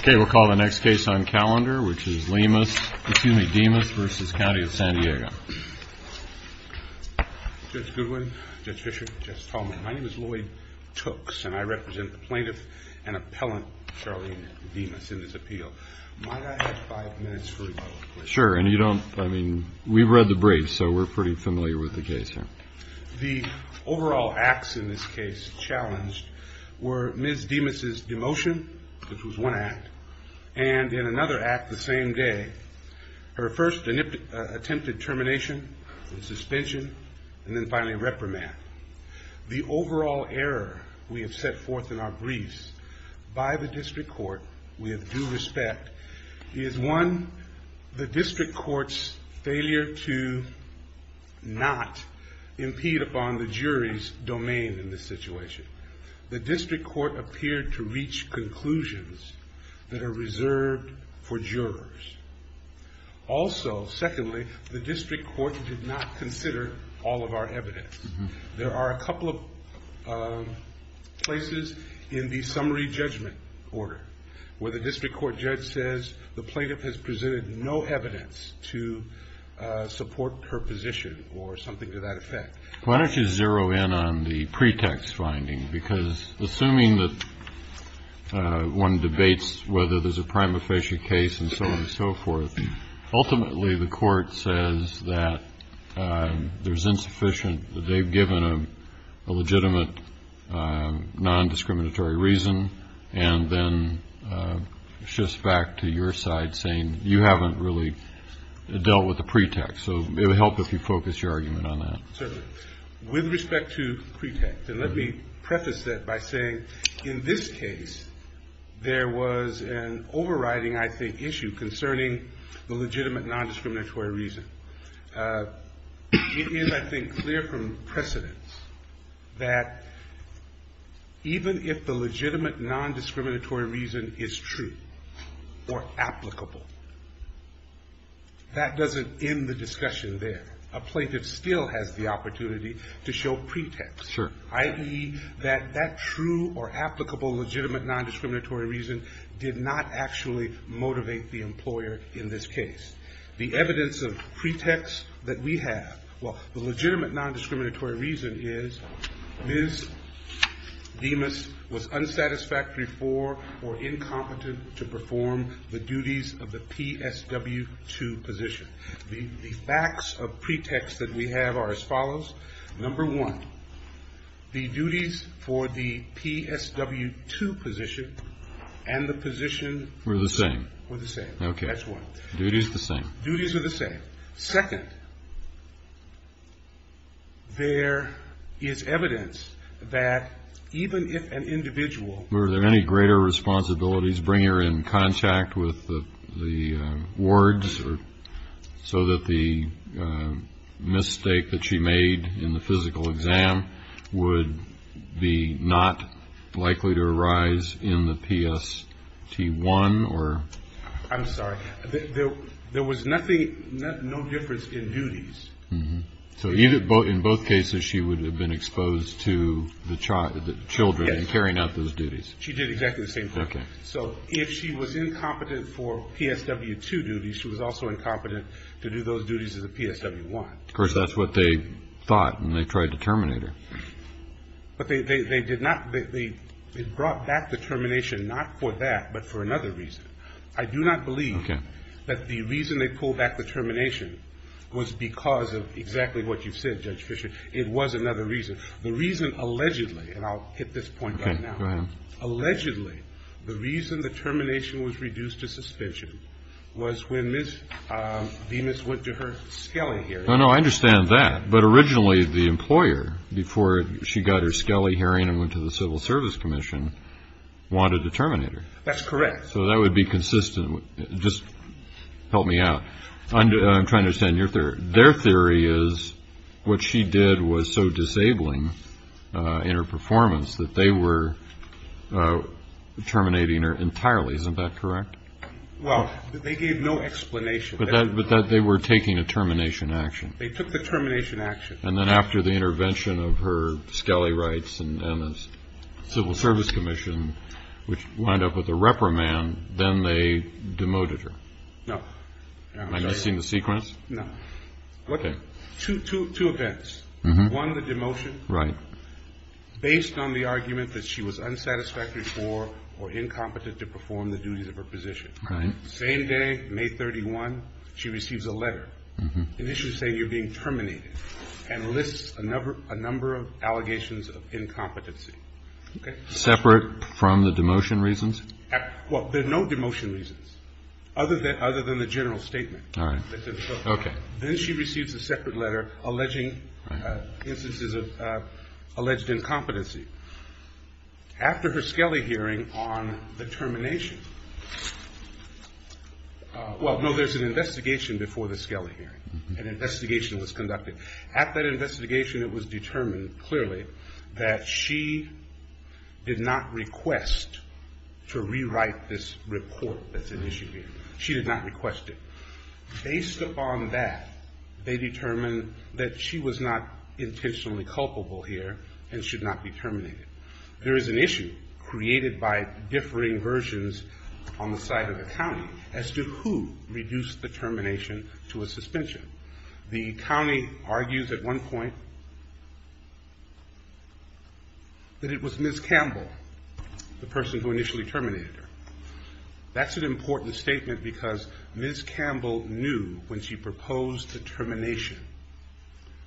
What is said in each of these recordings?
Okay, we'll call the next case on calendar, which is DEMUS v.. COUNTY OF SAN DIEGO. Judge Goodwin, Judge Fischer, Judge Tallman, my name is Lloyd Tooks, and I represent the plaintiff and appellant Charlene Demus in this appeal. Might I have five minutes for rebuttal, please? Sure, and you don't, I mean, we've read the briefs, so we're pretty familiar with the case here. The overall acts in this case challenged were Ms. Demus's demotion, which was one act, and in another act the same day, her first attempted termination, suspension, and then finally reprimand. The overall error we have set forth in our briefs by the district court, with due respect, is one, the district court's failure to not impede upon the jury's domain in this situation. The district court appeared to reach conclusions that are reserved for jurors. Also, secondly, the district court did not consider all of our evidence. There are a couple of places in the summary judgment order where the district court judge says the plaintiff has presented no evidence to support her position or something to that effect. Why don't you zero in on the pretext finding? Because assuming that one debates whether there's a prima facie case and so on and so forth, ultimately the court says that there's insufficient, that they've given a legitimate non-discriminatory reason, and then shifts back to your side saying you haven't really dealt with the pretext. So it would help if you focused your argument on that. Certainly. With respect to pretext, and let me preface that by saying in this case, there was an overriding, I think, issue concerning the legitimate non-discriminatory reason. It is, I think, clear from precedence that even if the legitimate non-discriminatory reason is true or applicable, that doesn't end the discussion there. A plaintiff still has the opportunity to show pretext. Sure. I.e., that that true or applicable legitimate non-discriminatory reason did not actually motivate the employer in this case. The evidence of pretext that we have, well, the legitimate non-discriminatory reason is Ms. Demas was unsatisfactory for or incompetent to perform the duties of the PSW2 position. The facts of pretext that we have are as follows. Number one, the duties for the PSW2 position and the position. Were the same. Were the same. Okay. That's one. Duties the same. Duties are the same. Second, there is evidence that even if an individual. Were there any greater responsibilities, bring her in contact with the wards so that the mistake that she made in the physical exam would be not likely to arise in the PST1 or. I'm sorry. There was nothing, no difference in duties. So even in both cases, she would have been exposed to the child, the children and carrying out those duties. She did exactly the same thing. Okay. So if she was incompetent for PSW2 duties, she was also incompetent to do those duties as a PSW1. Of course, that's what they thought. And they tried to terminate her. But they did not. They brought back the termination not for that, but for another reason. I do not believe that the reason they pulled back the termination was because of exactly what you said, Judge Fisher. It was another reason. The reason, allegedly, and I'll hit this point right now. Okay. Go ahead. Allegedly, the reason the termination was reduced to suspension was when Ms. Venus went to her Scali hearing. No, no, I understand that. But originally, the employer, before she got her Scali hearing and went to the Civil Service Commission, wanted to terminate her. That's correct. So that would be consistent. Just help me out. I'm trying to understand your theory. Their theory is what she did was so disabling in her performance that they were terminating her entirely. Isn't that correct? Well, they gave no explanation. But that they were taking a termination action. They took the termination action. And then after the intervention of her Scali rights and the Civil Service Commission, which wound up with a reprimand, then they demoted her. No. Am I missing the sequence? No. Okay. Two events. One, the demotion. Right. Based on the argument that she was unsatisfactory for or incompetent to perform the duties of her position. Right. Same day, May 31, she receives a letter initially saying you're being terminated. And lists a number of allegations of incompetency. Okay. Separate from the demotion reasons? Well, there are no demotion reasons. Other than the general statement. All right. Okay. Then she receives a separate letter alleging instances of alleged incompetency. After her Scali hearing on the termination, well, no, there's an investigation before the Scali hearing. An investigation was conducted. At that investigation, it was determined clearly that she did not request to rewrite this report that's in issue here. She did not request it. Based upon that, they determined that she was not intentionally culpable here and should not be terminated. There is an issue created by differing versions on the side of the county as to who reduced the termination to a suspension. The county argues at one point that it was Ms. Campbell, the person who initially terminated her. That's an important statement because Ms. Campbell knew when she proposed the termination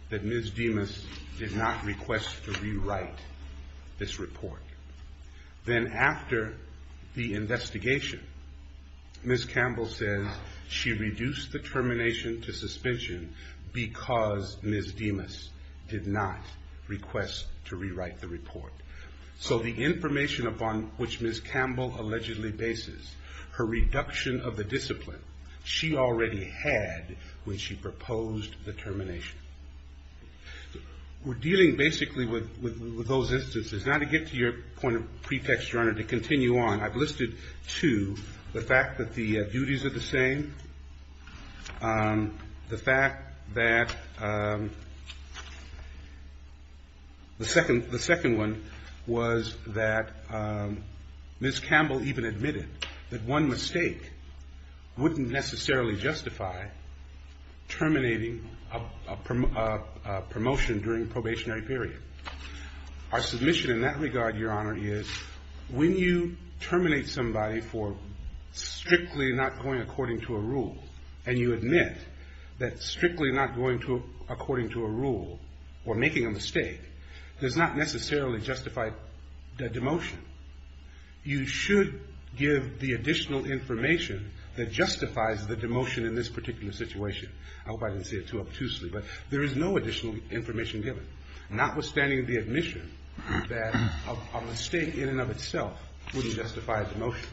that Ms. Demas did not request to rewrite. This report. Then after the investigation, Ms. Campbell says she reduced the termination to suspension because Ms. Demas did not request to rewrite the report. So the information upon which Ms. Campbell allegedly bases, her reduction of the discipline, she already had when she proposed the termination. We're dealing basically with those instances. Now to get to your point of pretext, Your Honor, to continue on, I've listed two. The fact that the duties are the same. The fact that the second one was that Ms. Campbell even admitted that one mistake wouldn't necessarily justify terminating a promotion during probationary period. Our submission in that regard, Your Honor, is when you terminate somebody for strictly not going according to a rule and you admit that strictly not going according to a rule or making a mistake does not necessarily justify the demotion. You should give the additional information that justifies the demotion in this particular situation. I hope I didn't say it too obtusely, but there is no additional information given. Notwithstanding the admission that a mistake in and of itself wouldn't justify the demotion.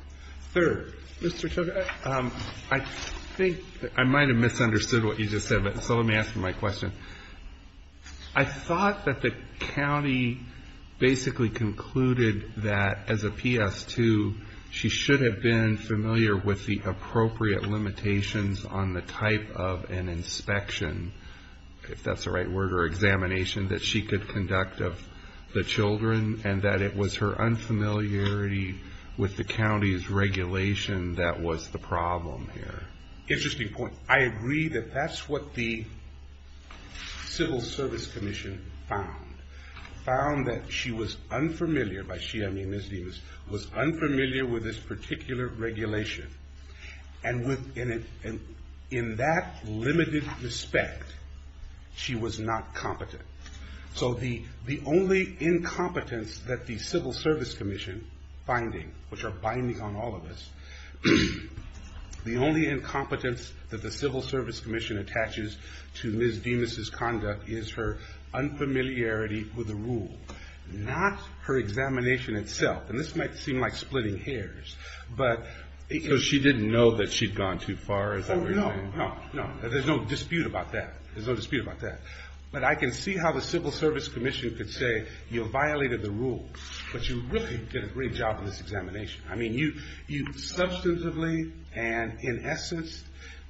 I think I might have misunderstood what you just said, so let me ask you my question. I thought that the county basically concluded that as a PS2, she should have been familiar with the appropriate limitations on the type of an inspection, if that's the right word, or examination that she could conduct of the children, and that it was her unfamiliarity with the county's regulation that was the problem here. Interesting point. I agree that that's what the Civil Service Commission found. Found that she was unfamiliar, by she I mean Ms. Demas, was unfamiliar with this particular regulation. And in that limited respect, she was not competent. So the only incompetence that the Civil Service Commission finding, which are binding on all of us, the only incompetence that the Civil Service Commission attaches to Ms. Demas' conduct is her unfamiliarity with the rule. Not her examination itself. And this might seem like splitting hairs. So she didn't know that she'd gone too far, is that what you're saying? No, no. There's no dispute about that. There's no dispute about that. But I can see how the Civil Service Commission could say, you violated the rule, but you really did a great job in this examination. I mean, you substantively and in essence,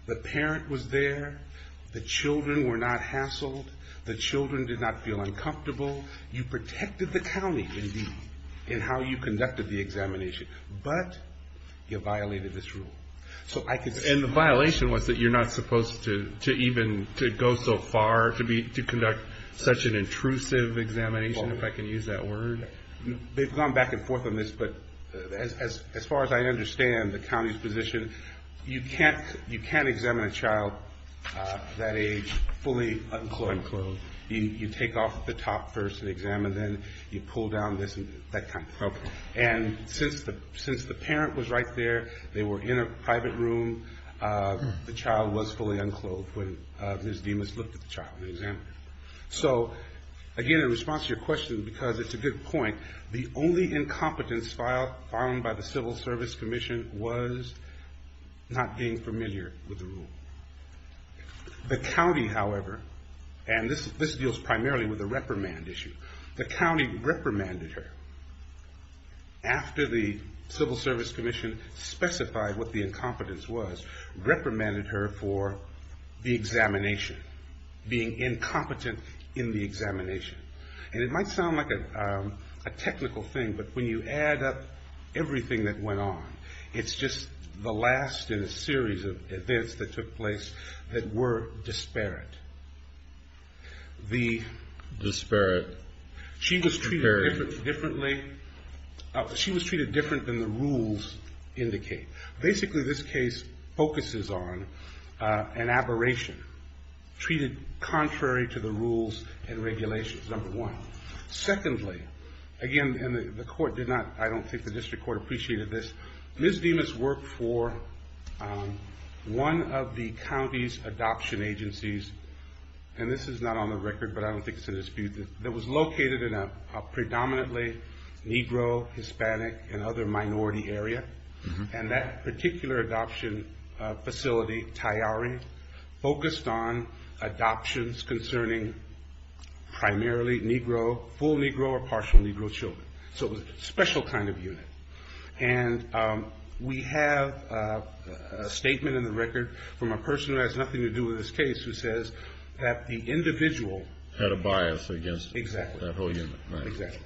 the parent was there. The children were not hassled. The children did not feel uncomfortable. You protected the county, indeed, in how you conducted the examination. But you violated this rule. And the violation was that you're not supposed to even go so far to conduct such an intrusive examination, if I can use that word? They've gone back and forth on this. But as far as I understand the county's position, you can't examine a child that age fully unclothed. Unclothed. You take off the top first and examine them. You pull down this and that kind of thing. And since the parent was right there, they were in a private room, the child was fully unclothed when Ms. Demas looked at the child and examined her. So, again, in response to your question, because it's a good point, the only incompetence found by the Civil Service Commission was not being familiar with the rule. The county, however, and this deals primarily with a reprimand issue. The county reprimanded her after the Civil Service Commission specified what the incompetence was, reprimanded her for the examination, being incompetent in the examination. And it might sound like a technical thing, but when you add up everything that went on, it's just the last in a series of events that took place that were disparate. She was treated differently than the rules indicate. Basically, this case focuses on an aberration, treated contrary to the rules and regulations, number one. Secondly, again, and the court did not, I don't think the district court appreciated this, Ms. Demas worked for one of the county's adoption agencies, and this is not on the record, but I don't think it's a dispute, that was located in a predominantly Negro, Hispanic, and other minority area. And that particular adoption facility, Tayari, focused on adoptions concerning primarily Negro, full Negro, or partial Negro children. So it was a special kind of unit. And we have a statement in the record from a person who has nothing to do with this case who says that the individual. Had a bias against that whole unit. Exactly.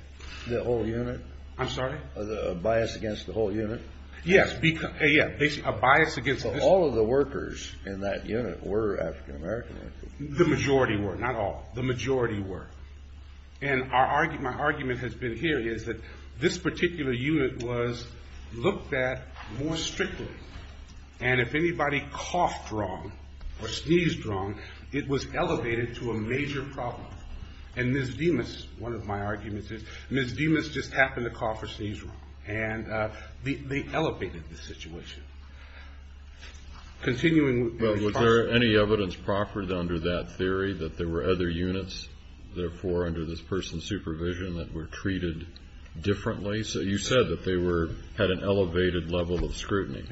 The whole unit? I'm sorry? A bias against the whole unit? Yes, a bias against. So all of the workers in that unit were African American? The majority were, not all, the majority were. And my argument has been here is that this particular unit was looked at more strictly. And if anybody coughed wrong or sneezed wrong, it was elevated to a major problem. And Ms. Demas, one of my arguments is, Ms. Demas just happened to cough or sneeze wrong. And they elevated the situation. Continuing with the response. Was there any evidence proffered under that theory that there were other units, therefore, under this person's supervision that were treated differently? So you said that they had an elevated level of scrutiny.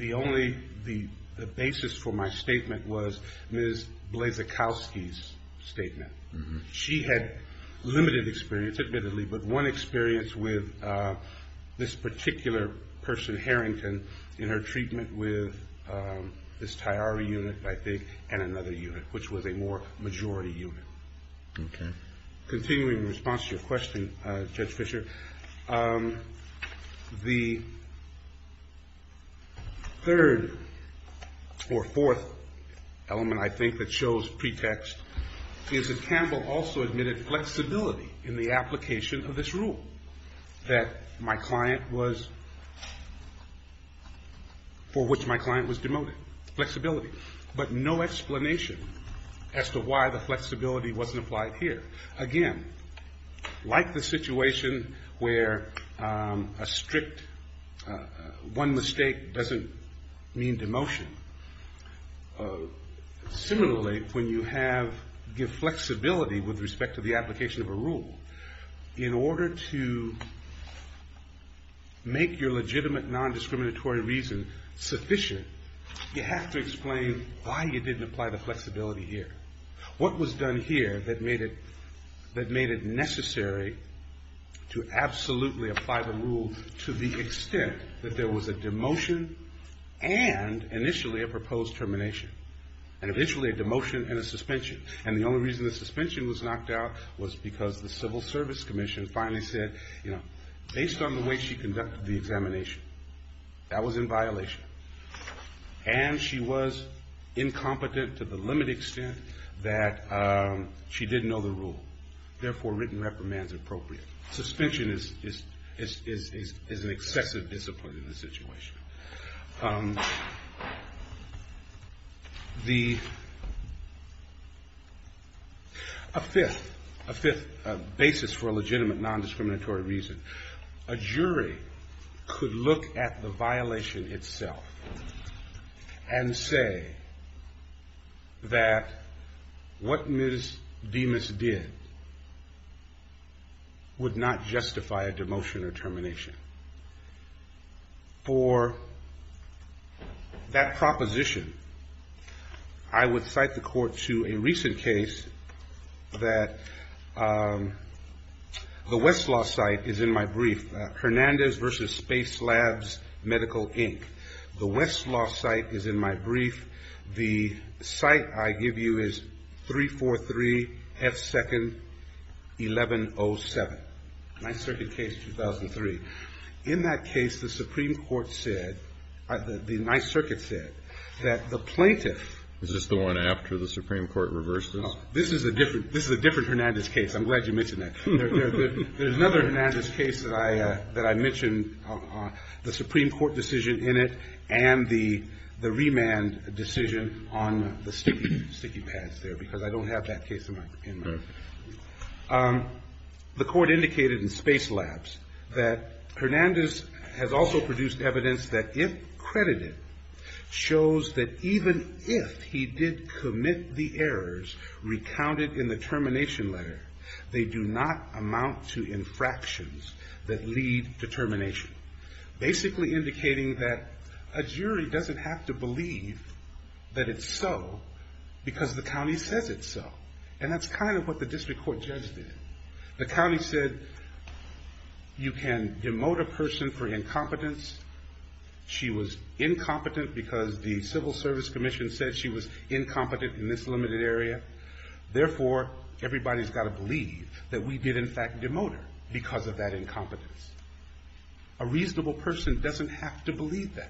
She had limited experience, admittedly. But one experience with this particular person, Harrington, in her treatment with this Tyari unit, I think, and another unit, which was a more majority unit. Okay. Continuing the response to your question, Judge Fisher, the third or fourth element, I think, that shows pretext, is that Campbell also admitted flexibility in the application of this rule that my client was, for which my client was demoted. Flexibility. But no explanation as to why the flexibility wasn't applied here. Again, like the situation where a strict one mistake doesn't mean demotion. Similarly, when you have flexibility with respect to the application of a rule, in order to make your legitimate non-discriminatory reason sufficient, you have to explain why you didn't apply the flexibility here. What was done here that made it necessary to absolutely apply the rule to the extent that there was a demotion and initially a proposed termination? And eventually a demotion and a suspension. And the only reason the suspension was knocked out was because the Civil Service Commission finally said, you know, based on the way she conducted the examination, that was in violation. And she was incompetent to the limited extent that she didn't know the rule. Therefore, written reprimand is appropriate. Suspension is an excessive discipline in this situation. A fifth basis for a legitimate non-discriminatory reason. A jury could look at the violation itself and say that what Ms. Demas did would not justify a demotion or termination. For that proposition, I would cite the court to a recent case that the Westlaw site is in my brief. Hernandez versus Space Labs Medical, Inc. The Westlaw site is in my brief. The site I give you is 343 F. Second, 1107. Ninth Circuit case, 2003. In that case, the Supreme Court said, the Ninth Circuit said, that the plaintiff. Is this the one after the Supreme Court reversed it? This is a different Hernandez case. I'm glad you mentioned that. There's another Hernandez case that I mentioned, the Supreme Court decision in it and the remand decision on the sticky pads there, because I don't have that case in mind. The court indicated in Space Labs that Hernandez has also produced evidence that if credited, shows that even if he did commit the errors recounted in the termination letter, they do not amount to infractions that lead to termination. Basically indicating that a jury doesn't have to believe that it's so, because the county says it's so. And that's kind of what the district court judge did. The county said, you can demote a person for incompetence. She was incompetent because the Civil Service Commission said she was incompetent in this limited area. Therefore, everybody's got to believe that we did in fact demote her because of that incompetence. A reasonable person doesn't have to believe that.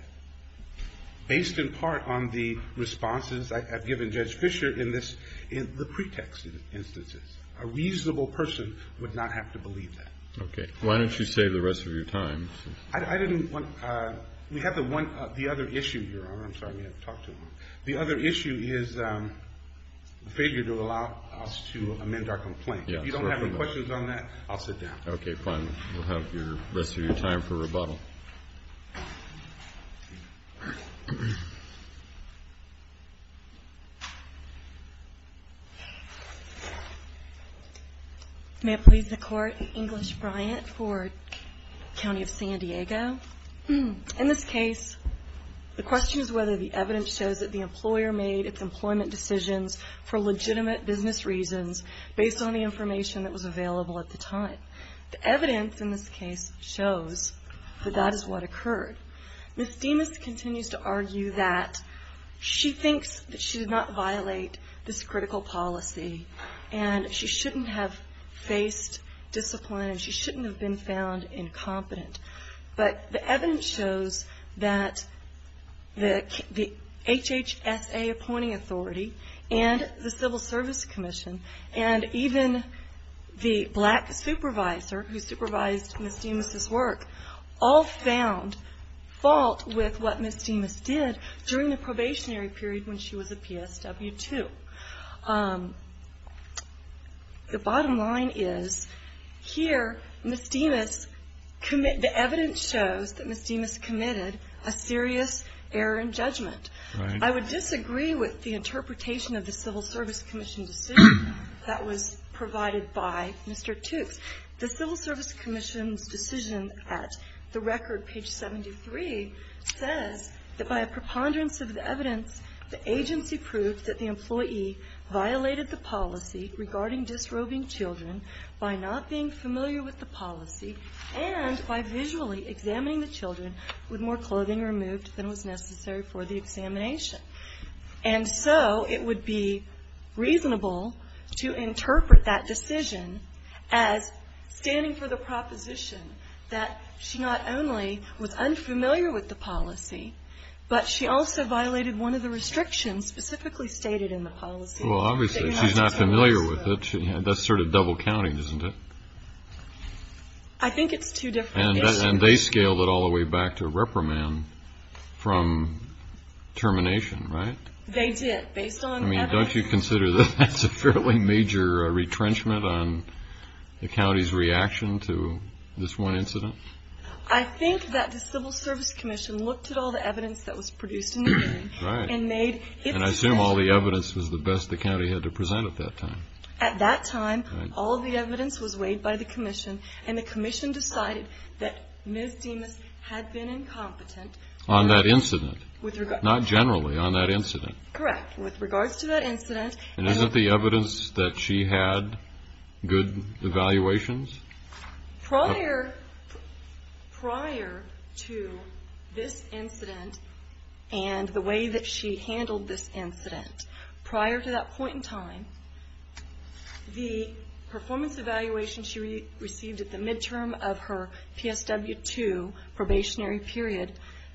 Based in part on the responses I've given Judge Fisher in the pretext instances. A reasonable person would not have to believe that. Okay. Why don't you save the rest of your time? I didn't want to. We have the other issue here. I'm sorry. We have to talk to him. The other issue is the failure to allow us to amend our complaint. If you don't have any questions on that, I'll sit down. Okay, fine. We'll have the rest of your time for rebuttal. May it please the Court, English Bryant for County of San Diego. In this case, the question is whether the evidence shows that the employer made its employment decisions for legitimate business reasons based on the information that was available at the time. The evidence in this case shows that that is what occurred. Ms. Demas continues to argue that she thinks that she did not violate this critical policy and she shouldn't have faced discipline and she shouldn't have been found incompetent. But the evidence shows that the HHSA appointing authority and the Civil Service Commission and even the black supervisor who supervised Ms. Demas' work all found fault with what Ms. Demas did during the probationary period when she was a PSW-2. The bottom line is here Ms. Demas, the evidence shows that Ms. Demas committed a serious error in judgment. I would disagree with the interpretation of the Civil Service Commission decision that was provided by Mr. Toopes. The Civil Service Commission's decision at the record, page 73, says that by a preponderance of the evidence, the agency proved that the employee violated the policy regarding disrobing children by not being familiar with the policy and by visually examining the children with more clothing removed than was necessary for the examination. And so it would be reasonable to interpret that decision as standing for the proposition that she not only was unfamiliar with the policy, but she also violated one of the restrictions specifically stated in the policy. Well, obviously she's not familiar with it. That's sort of double counting, isn't it? I think it's two different issues. And they scaled it all the way back to reprimand from termination, right? They did, based on evidence. I mean, don't you consider that that's a fairly major retrenchment on the county's reaction to this one incident? I think that the Civil Service Commission looked at all the evidence that was produced in the hearing. Right. And made its decision. And I assume all the evidence was the best the county had to present at that time. At that time, all the evidence was weighed by the commission, and the commission decided that Ms. Demas had been incompetent. On that incident? Not generally, on that incident. Correct. With regards to that incident. And isn't the evidence that she had good evaluations? Prior to this incident and the way that she handled this incident, prior to that point in time, the performance evaluation she received at the midterm of her PSW2 probationary period,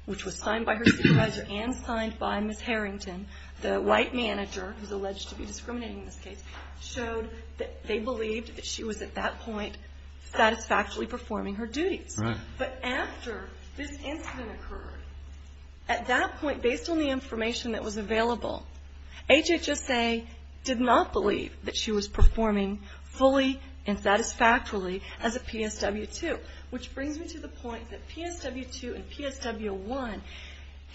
which was signed by her supervisor and signed by Ms. Harrington, the white manager who's alleged to be discriminating in this case, showed that they believed that she was, at that point, satisfactorily performing her duties. Right. But after this incident occurred, at that point, based on the information that was available, HHSA did not believe that she was performing fully and satisfactorily as a PSW2, which brings me to the point that PSW2 and PSW1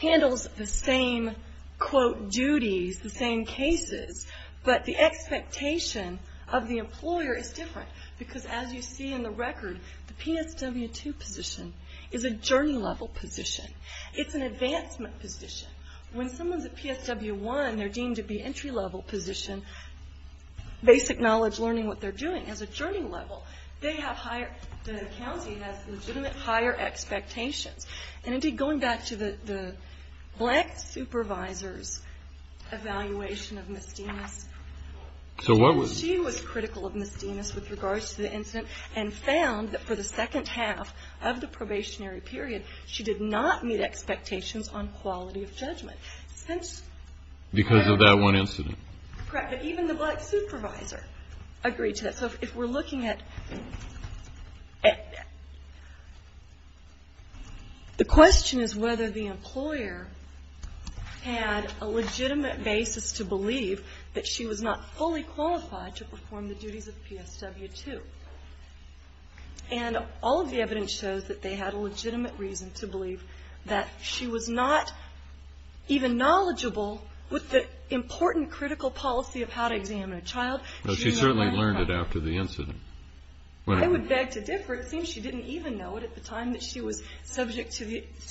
handles the same, quote, duties, the same cases, but the expectation of the employer is different. Because, as you see in the record, the PSW2 position is a journey-level position. It's an advancement position. When someone's at PSW1, they're deemed to be entry-level position, basic knowledge, learning what they're doing. As a journey level, they have higher, the county has legitimate higher expectations. And, indeed, going back to the black supervisor's evaluation of Ms. Dinas, she was critical of Ms. Dinas with regards to the incident and found that for the second half of the probationary period, she did not meet expectations on quality of judgment. Because of that one incident. Correct. But even the black supervisor agreed to that. So if we're looking at, the question is whether the employer had a legitimate basis to believe that she was not fully qualified to perform the duties of PSW2. And all of the evidence shows that they had a legitimate reason to believe that she was not even knowledgeable with the important critical policy of how to examine a child. She certainly learned it after the incident. I would beg to differ. It seems she didn't even know it at the time that she was subject to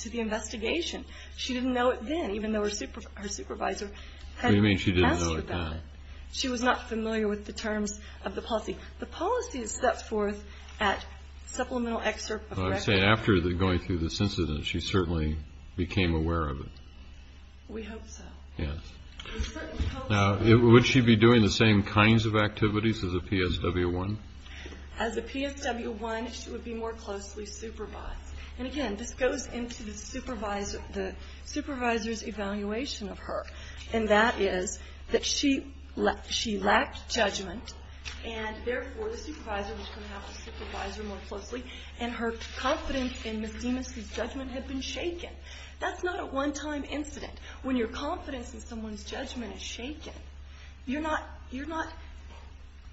the investigation. She didn't know it then, even though her supervisor had asked about it. What do you mean she didn't know it then? She was not familiar with the terms of the policy. The policy is set forth at supplemental excerpt of record. I'm saying after going through this incident, she certainly became aware of it. We hope so. Yes. Now, would she be doing the same kinds of activities as a PSW1? As a PSW1, she would be more closely supervised. And, again, this goes into the supervisor's evaluation of her, and that is that she lacked judgment, and, therefore, the supervisor was going to have to supervise her more closely, and her confidence in Ms. Demas' judgment had been shaken. That's not a one-time incident. When your confidence in someone's judgment is shaken, you're not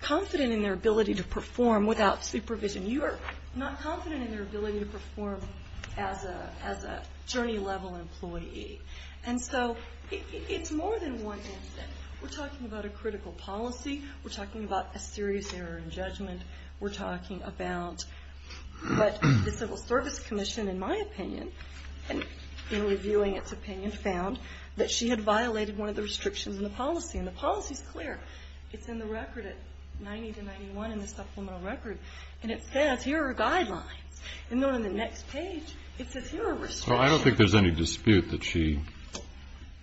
confident in their ability to perform without supervision. You are not confident in their ability to perform as a journey-level employee. And so it's more than one incident. We're talking about a critical policy. We're talking about a serious error in judgment. We're talking about what the Civil Service Commission, in my opinion, in reviewing its opinion, found that she had violated one of the restrictions in the policy, and the policy is clear. It's in the record at 90 to 91 in the supplemental record, and it says here are guidelines. And then on the next page, it says here are restrictions. Well, I don't think there's any dispute that she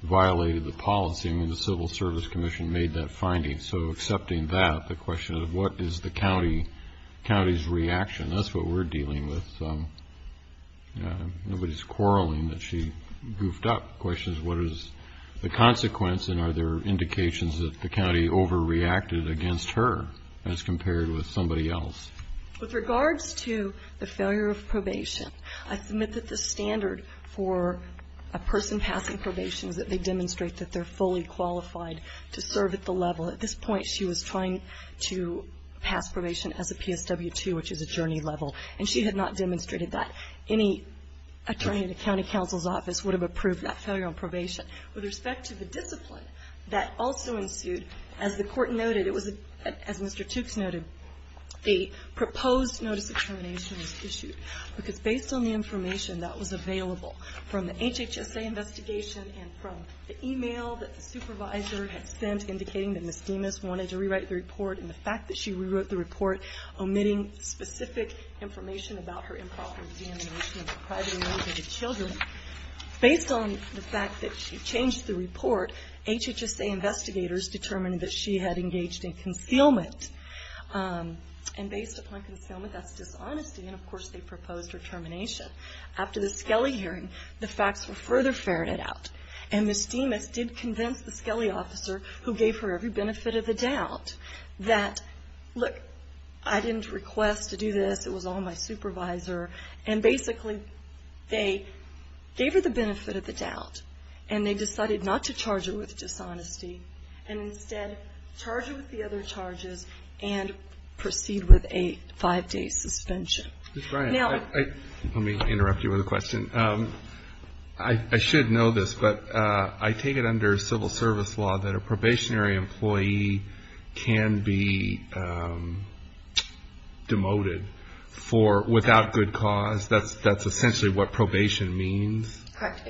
violated the policy. I mean, the Civil Service Commission made that finding. So accepting that, the question of what is the county's reaction, that's what we're dealing with. Nobody's quarreling that she goofed up. The question is what is the consequence, and are there indications that the county overreacted against her as compared with somebody else? With regards to the failure of probation, I submit that the standard for a person passing probation is that they demonstrate that they're fully qualified to serve at the level. At this point, she was trying to pass probation as a PSW-2, which is a journey-level, and she had not demonstrated that. Any attorney at a county counsel's office would have approved that failure on probation. With respect to the discipline that also ensued, as the Court noted, it was, as Mr. Tooks noted, a proposed notice of termination was issued because based on the information that was available from the HHSA investigation and from the e-mail that the supervisor had sent indicating that Ms. Demas wanted to rewrite the report, and the fact that she rewrote the report omitting specific information about her improper examination of her privately-motivated children, based on the fact that she changed the report, HHSA investigators determined that she had engaged in concealment, and based upon concealment, that's dishonesty, and of course they proposed her termination. After the Skelly hearing, the facts were further ferreted out, and Ms. Demas did convince the Skelly officer, who gave her every benefit of the doubt, that, look, I didn't request to do this, it was all my supervisor, and basically they gave her the benefit of the doubt, and they decided not to charge her with dishonesty, and instead charge her with the other charges and proceed with a five-day suspension. Mr. Bryant, let me interrupt you with a question. I should know this, but I take it under civil service law that a probationary employee can be demoted for without good cause. That's essentially what probation means? Correct.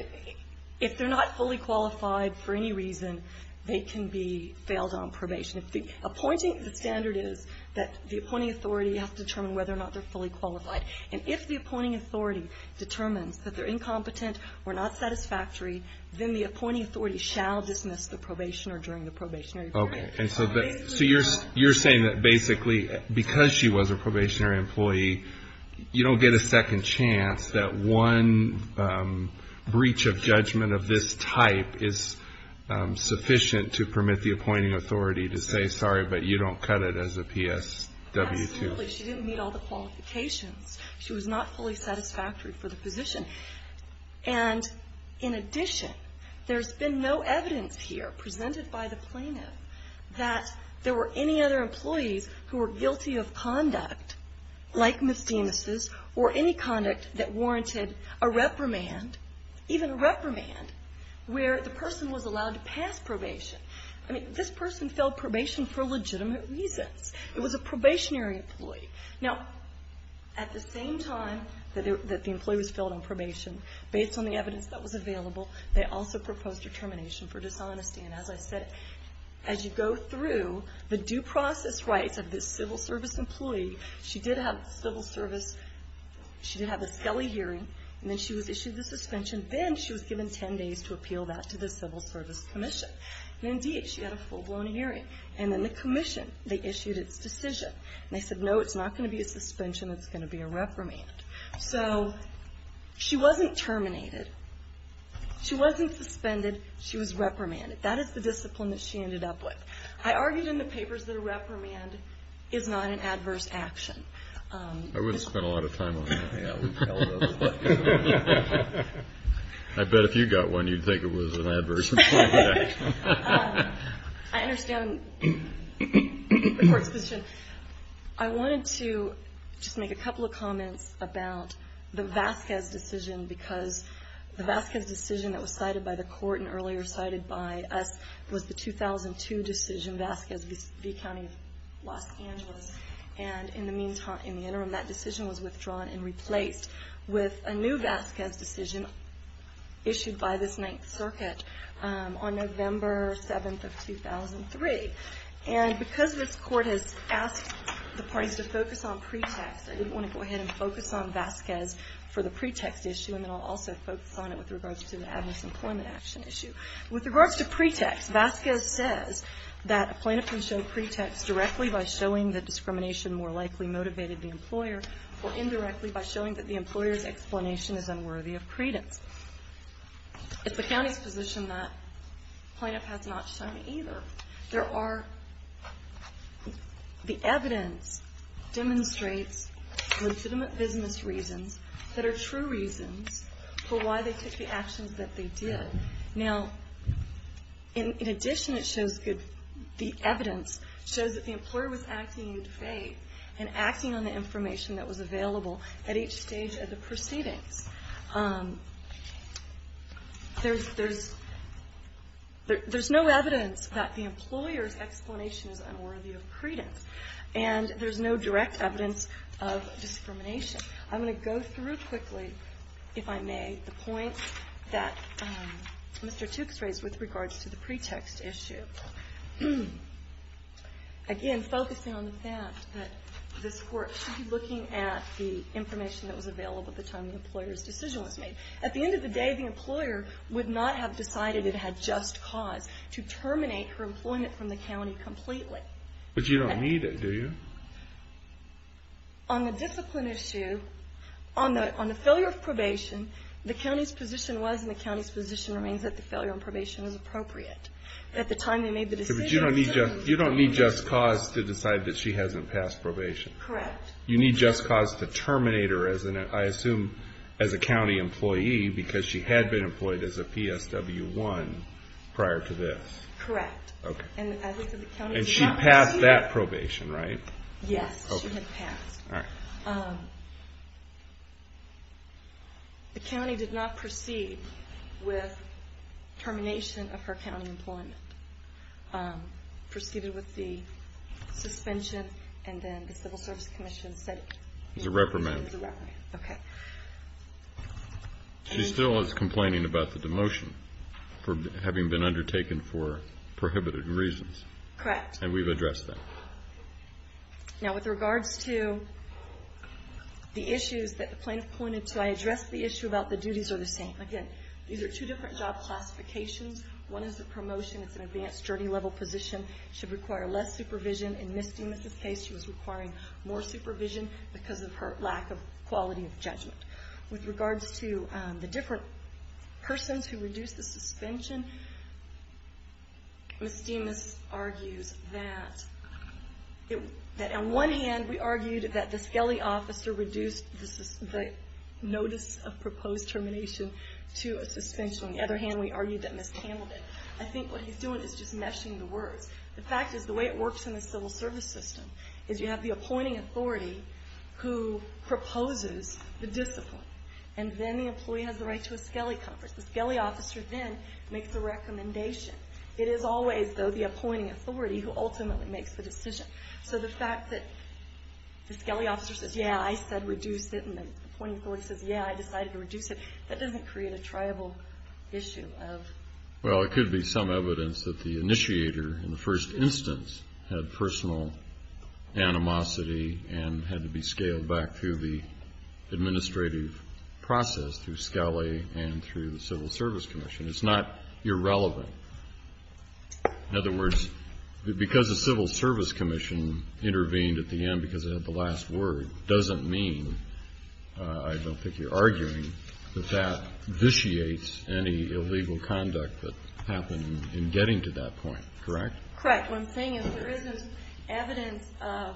If they're not fully qualified for any reason, they can be failed on probation. Appointing the standard is that the appointing authority has to determine whether or not they're fully qualified. And if the appointing authority determines that they're incompetent or not satisfactory, then the appointing authority shall dismiss the probationer during the probationary period. Okay. So you're saying that basically because she was a probationary employee, you don't get a second chance that one breach of judgment of this type is sufficient to permit the appointing authority to say, sorry, but you don't cut it as a PSW2? Absolutely. She didn't meet all the qualifications. She was not fully satisfactory for the position. And in addition, there's been no evidence here presented by the plaintiff that there were any other employees who were guilty of conduct like misdemeanors or any conduct that warranted a reprimand, even a reprimand, where the person was allowed to pass probation. I mean, this person failed probation for legitimate reasons. It was a probationary employee. Now, at the same time that the employee was failed on probation, based on the evidence that was available, they also proposed determination for dishonesty. And as I said, as you go through, the due process rights of this civil service employee, she did have a civil service, she did have a Scully hearing, and then she was issued the suspension. Then she was given 10 days to appeal that to the Civil Service Commission. And indeed, she had a full-blown hearing. And then the commission, they issued its decision. And they said, no, it's not going to be a suspension. It's going to be a reprimand. So she wasn't terminated. She wasn't suspended. She was reprimanded. That is the discipline that she ended up with. I argued in the papers that a reprimand is not an adverse action. I wouldn't spend a lot of time on that. I bet if you got one, you'd think it was an adverse action. I understand the court's position. I wanted to just make a couple of comments about the Vasquez decision, because the Vasquez decision that was cited by the court and earlier cited by us was the 2002 decision, Vasquez v. County of Los Angeles. And in the interim, that decision was withdrawn and replaced with a new Vasquez decision issued by this Ninth Circuit on November 7th of 2003. And because this court has asked the parties to focus on pretext, I didn't want to go ahead and focus on Vasquez for the pretext issue, and then I'll also focus on it with regards to the adverse employment action issue. With regards to pretext, Vasquez says that a plaintiff can show pretext directly by showing that discrimination more likely motivated the employer or indirectly by showing that the employer's explanation is unworthy of credence. It's the county's position that plaintiff has not shown either. However, the evidence demonstrates legitimate business reasons that are true reasons for why they took the actions that they did. Now, in addition, the evidence shows that the employer was acting in good faith and acting on the information that was available at each stage of the proceedings. There's no evidence that the employer's explanation is unworthy of credence, and there's no direct evidence of discrimination. I'm going to go through quickly, if I may, the points that Mr. Tooke's raised with regards to the pretext issue. Again, focusing on the fact that this court should be looking at the information that was available at the time the employer's decision was made. At the end of the day, the employer would not have decided it had just cause to terminate her employment from the county completely. But you don't need it, do you? On the discipline issue, on the failure of probation, the county's position was and the county's position remains that the failure of probation was appropriate. At the time they made the decision... But you don't need just cause to decide that she hasn't passed probation. Correct. You need just cause to terminate her, I assume, as a county employee because she had been employed as a PSW-1 prior to this. Correct. Okay. And she passed that probation, right? Yes, she had passed. All right. The county did not proceed with termination of her county employment. Proceeded with the suspension, and then the Civil Service Commission said it. It was a reprimand. It was a reprimand. Okay. She still is complaining about the demotion for having been undertaken for prohibited reasons. Correct. And we've addressed that. Now, with regards to the issues that the plaintiff pointed to, I addressed the issue about the duties are the same. Again, these are two different job classifications. One is the promotion. It's an advanced, journey-level position. It should require less supervision. In Ms. Demas' case, she was requiring more supervision because of her lack of quality of judgment. With regards to the different persons who reduced the suspension, Ms. Demas argues that on one hand, we argued that the Skelly officer reduced the notice of proposed termination to a suspension. On the other hand, we argued that Ms. Campbell did. I think what he's doing is just meshing the words. The fact is the way it works in the Civil Service system is you have the appointing authority who proposes the discipline, and then the employee has the right to a Skelly conference. The Skelly officer then makes the recommendation. It is always, though, the appointing authority who ultimately makes the decision. So the fact that the Skelly officer says, Yeah, I said reduce it, and the appointing authority says, Yeah, I decided to reduce it. That doesn't create a tribal issue. Well, it could be some evidence that the initiator in the first instance had personal animosity and had to be scaled back through the administrative process through Skelly and through the Civil Service Commission. It's not irrelevant. In other words, because the Civil Service Commission intervened at the end because they had the last word doesn't mean, I don't think you're arguing, that that vitiates any illegal conduct that happened in getting to that point. Correct? Correct. What I'm saying is there isn't evidence of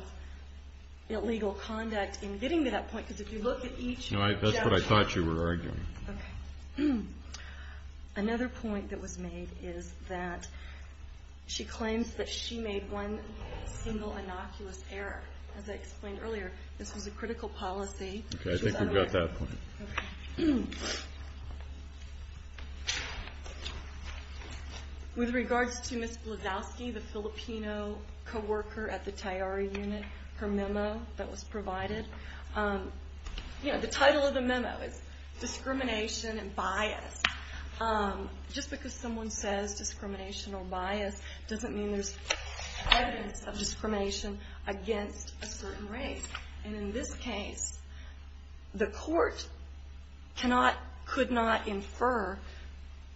illegal conduct in getting to that point because if you look at each judgment. That's what I thought you were arguing. Okay. Another point that was made is that she claims that she made one single innocuous error. As I explained earlier, this was a critical policy. Okay, I think we've got that point. Okay. With regards to Ms. Blazowski, the Filipino co-worker at the Tayari unit, her memo that was provided, the title of the memo is discrimination and bias. Just because someone says discrimination or bias doesn't mean there's evidence of discrimination against a certain race. In this case, the court could not infer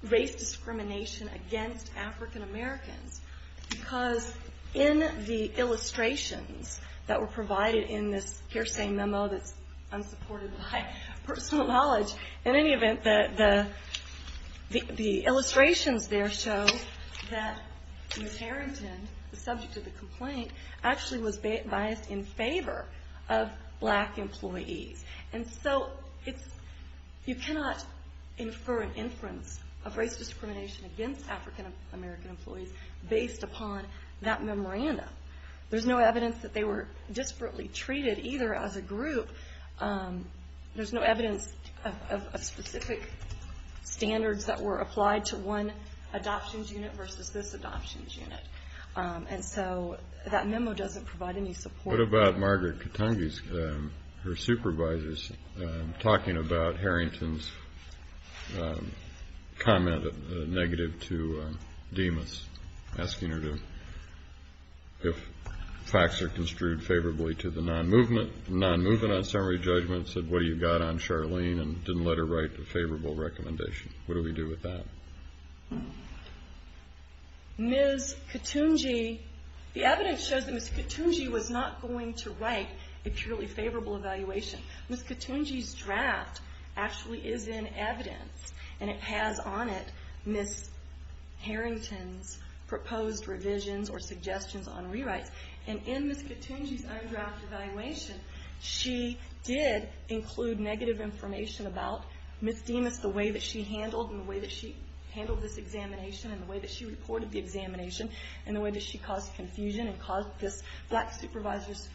race discrimination against African Americans because in the illustrations that were provided in this hearsay memo that's unsupported by personal knowledge, in any event, the illustrations there show that Ms. Harrington, the subject of the complaint, actually was biased in favor of black employees. And so you cannot infer an inference of race discrimination against African American employees based upon that memorandum. There's no evidence that they were desperately treated either as a group. There's no evidence of specific standards that were applied to one adoptions unit versus this adoptions unit. And so that memo doesn't provide any support. What about Margaret Katungy, her supervisors, talking about Harrington's comment negative to Demas, asking her if facts are construed favorably to the non-movement. The non-movement on summary judgment said, what do you got on Charlene and didn't let her write a favorable recommendation. What do we do with that? Ms. Katungy, the evidence shows that Ms. Katungy was not going to write a purely favorable evaluation. Ms. Katungy's draft actually is in evidence and it has on it Ms. Harrington's proposed revisions or suggestions on rewrites. And in Ms. Katungy's own draft evaluation, she did include negative information about Ms. Demas, the way that she handled this examination, and the way that she reported the examination, and the way that she caused confusion and caused this black supervisor's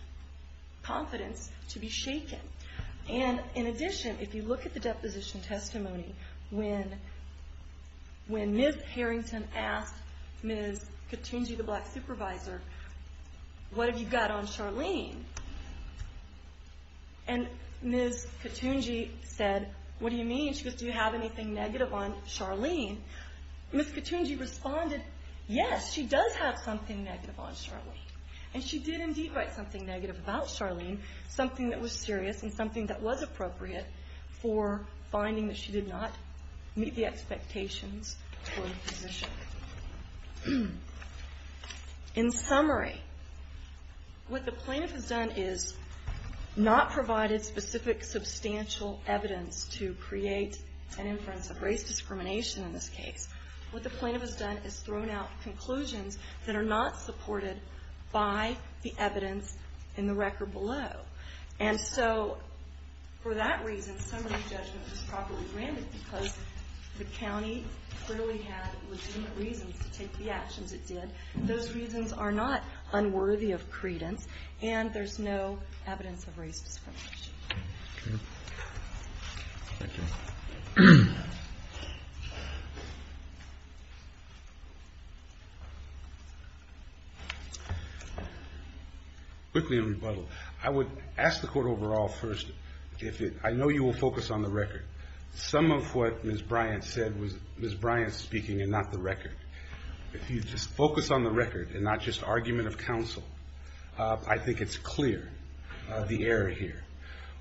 confidence to be shaken. And in addition, if you look at the deposition testimony, when Ms. Harrington asked Ms. Katungy, the black supervisor, what have you got on Charlene? And Ms. Katungy said, what do you mean? She said, do you have anything negative on Charlene? Ms. Katungy responded, yes, she does have something negative on Charlene. And she did indeed write something negative about Charlene, something that was serious and something that was appropriate for finding that she did not meet the expectations for the position. In summary, what the plaintiff has done is not provided specific substantial evidence to create an inference of race discrimination in this case. What the plaintiff has done is thrown out conclusions that are not supported by the evidence in the record below. And so for that reason, summary judgment was properly granted because the county clearly had legitimate reasons to take the actions it did. Those reasons are not unworthy of credence, and there's no evidence of race discrimination. Thank you. Quickly in rebuttal, I would ask the Court overall first, I know you will focus on the record. Some of what Ms. Bryant said was Ms. Bryant speaking and not the record. If you just focus on the record and not just argument of counsel, I think it's clear the error here.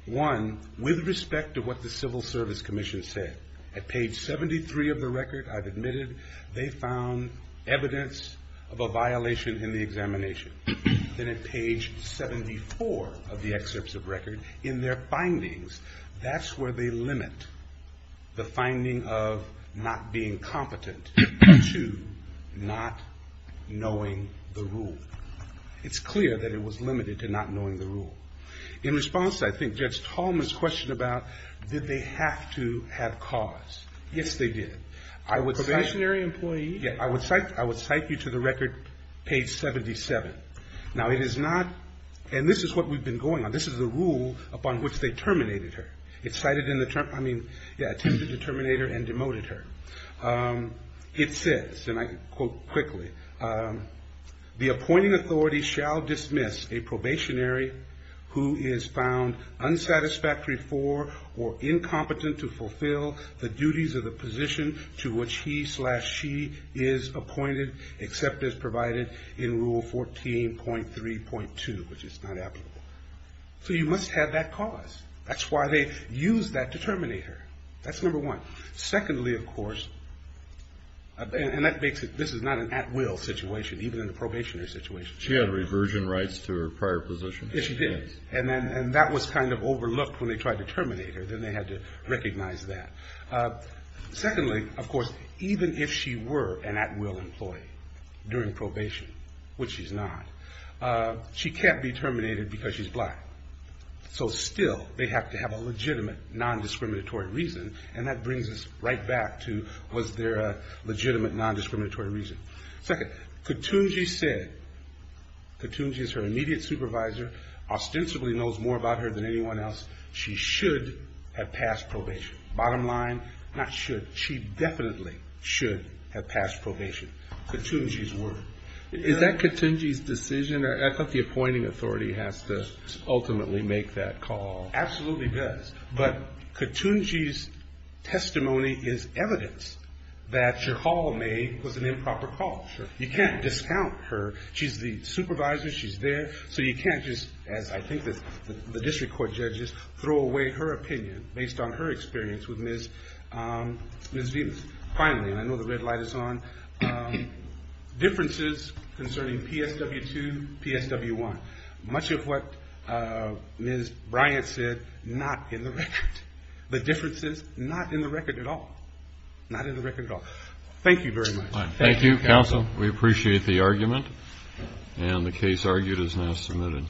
One, with respect to what the Civil Service Commission said, at page 73 of the record, I've admitted, they found evidence of a violation in the examination. Then at page 74 of the excerpts of record, in their findings, that's where they limit the finding of not being competent to not knowing the rule. It's clear that it was limited to not knowing the rule. In response, I think Judge Tallman's question about, did they have to have cause? Yes, they did. I would cite you to the record, page 77. Now it is not, and this is what we've been going on, this is the rule upon which they terminated her. It cited, I mean, attempted to terminate her and demoted her. It says, and I quote quickly, the appointing authority shall dismiss a probationary who is found unsatisfactory for or incompetent to fulfill the duties of the position to which he slash she is appointed, except as provided in Rule 14.3.2, which is not applicable. So you must have that cause. That's why they used that to terminate her. That's number one. Secondly, of course, and that makes it, this is not an at-will situation, even in a probationary situation. She had reversion rights to her prior position. Yes, she did. And that was kind of overlooked when they tried to terminate her. Then they had to recognize that. Secondly, of course, even if she were an at-will employee during probation, which she's not, she can't be terminated because she's black. So still, they have to have a legitimate non-discriminatory reason, and that brings us right back to, was there a legitimate non-discriminatory reason? Second, Ketunji said, Ketunji is her immediate supervisor, ostensibly knows more about her than anyone else, she should have passed probation. Bottom line, not should, she definitely should have passed probation. Ketunji's word. Is that Ketunji's decision? I thought the appointing authority has to ultimately make that call. Absolutely does. But Ketunji's testimony is evidence that your call made was an improper call. You can't discount her. She's the supervisor. She's there. So you can't just, as I think the district court judges, throw away her opinion based on her experience with Ms. Venus. Finally, and I know the red light is on, differences concerning PSW2, PSW1. Much of what Ms. Bryant said, not in the record. The differences, not in the record at all. Not in the record at all. Thank you very much. Thank you, counsel. We appreciate the argument. And the case argued is now submitted.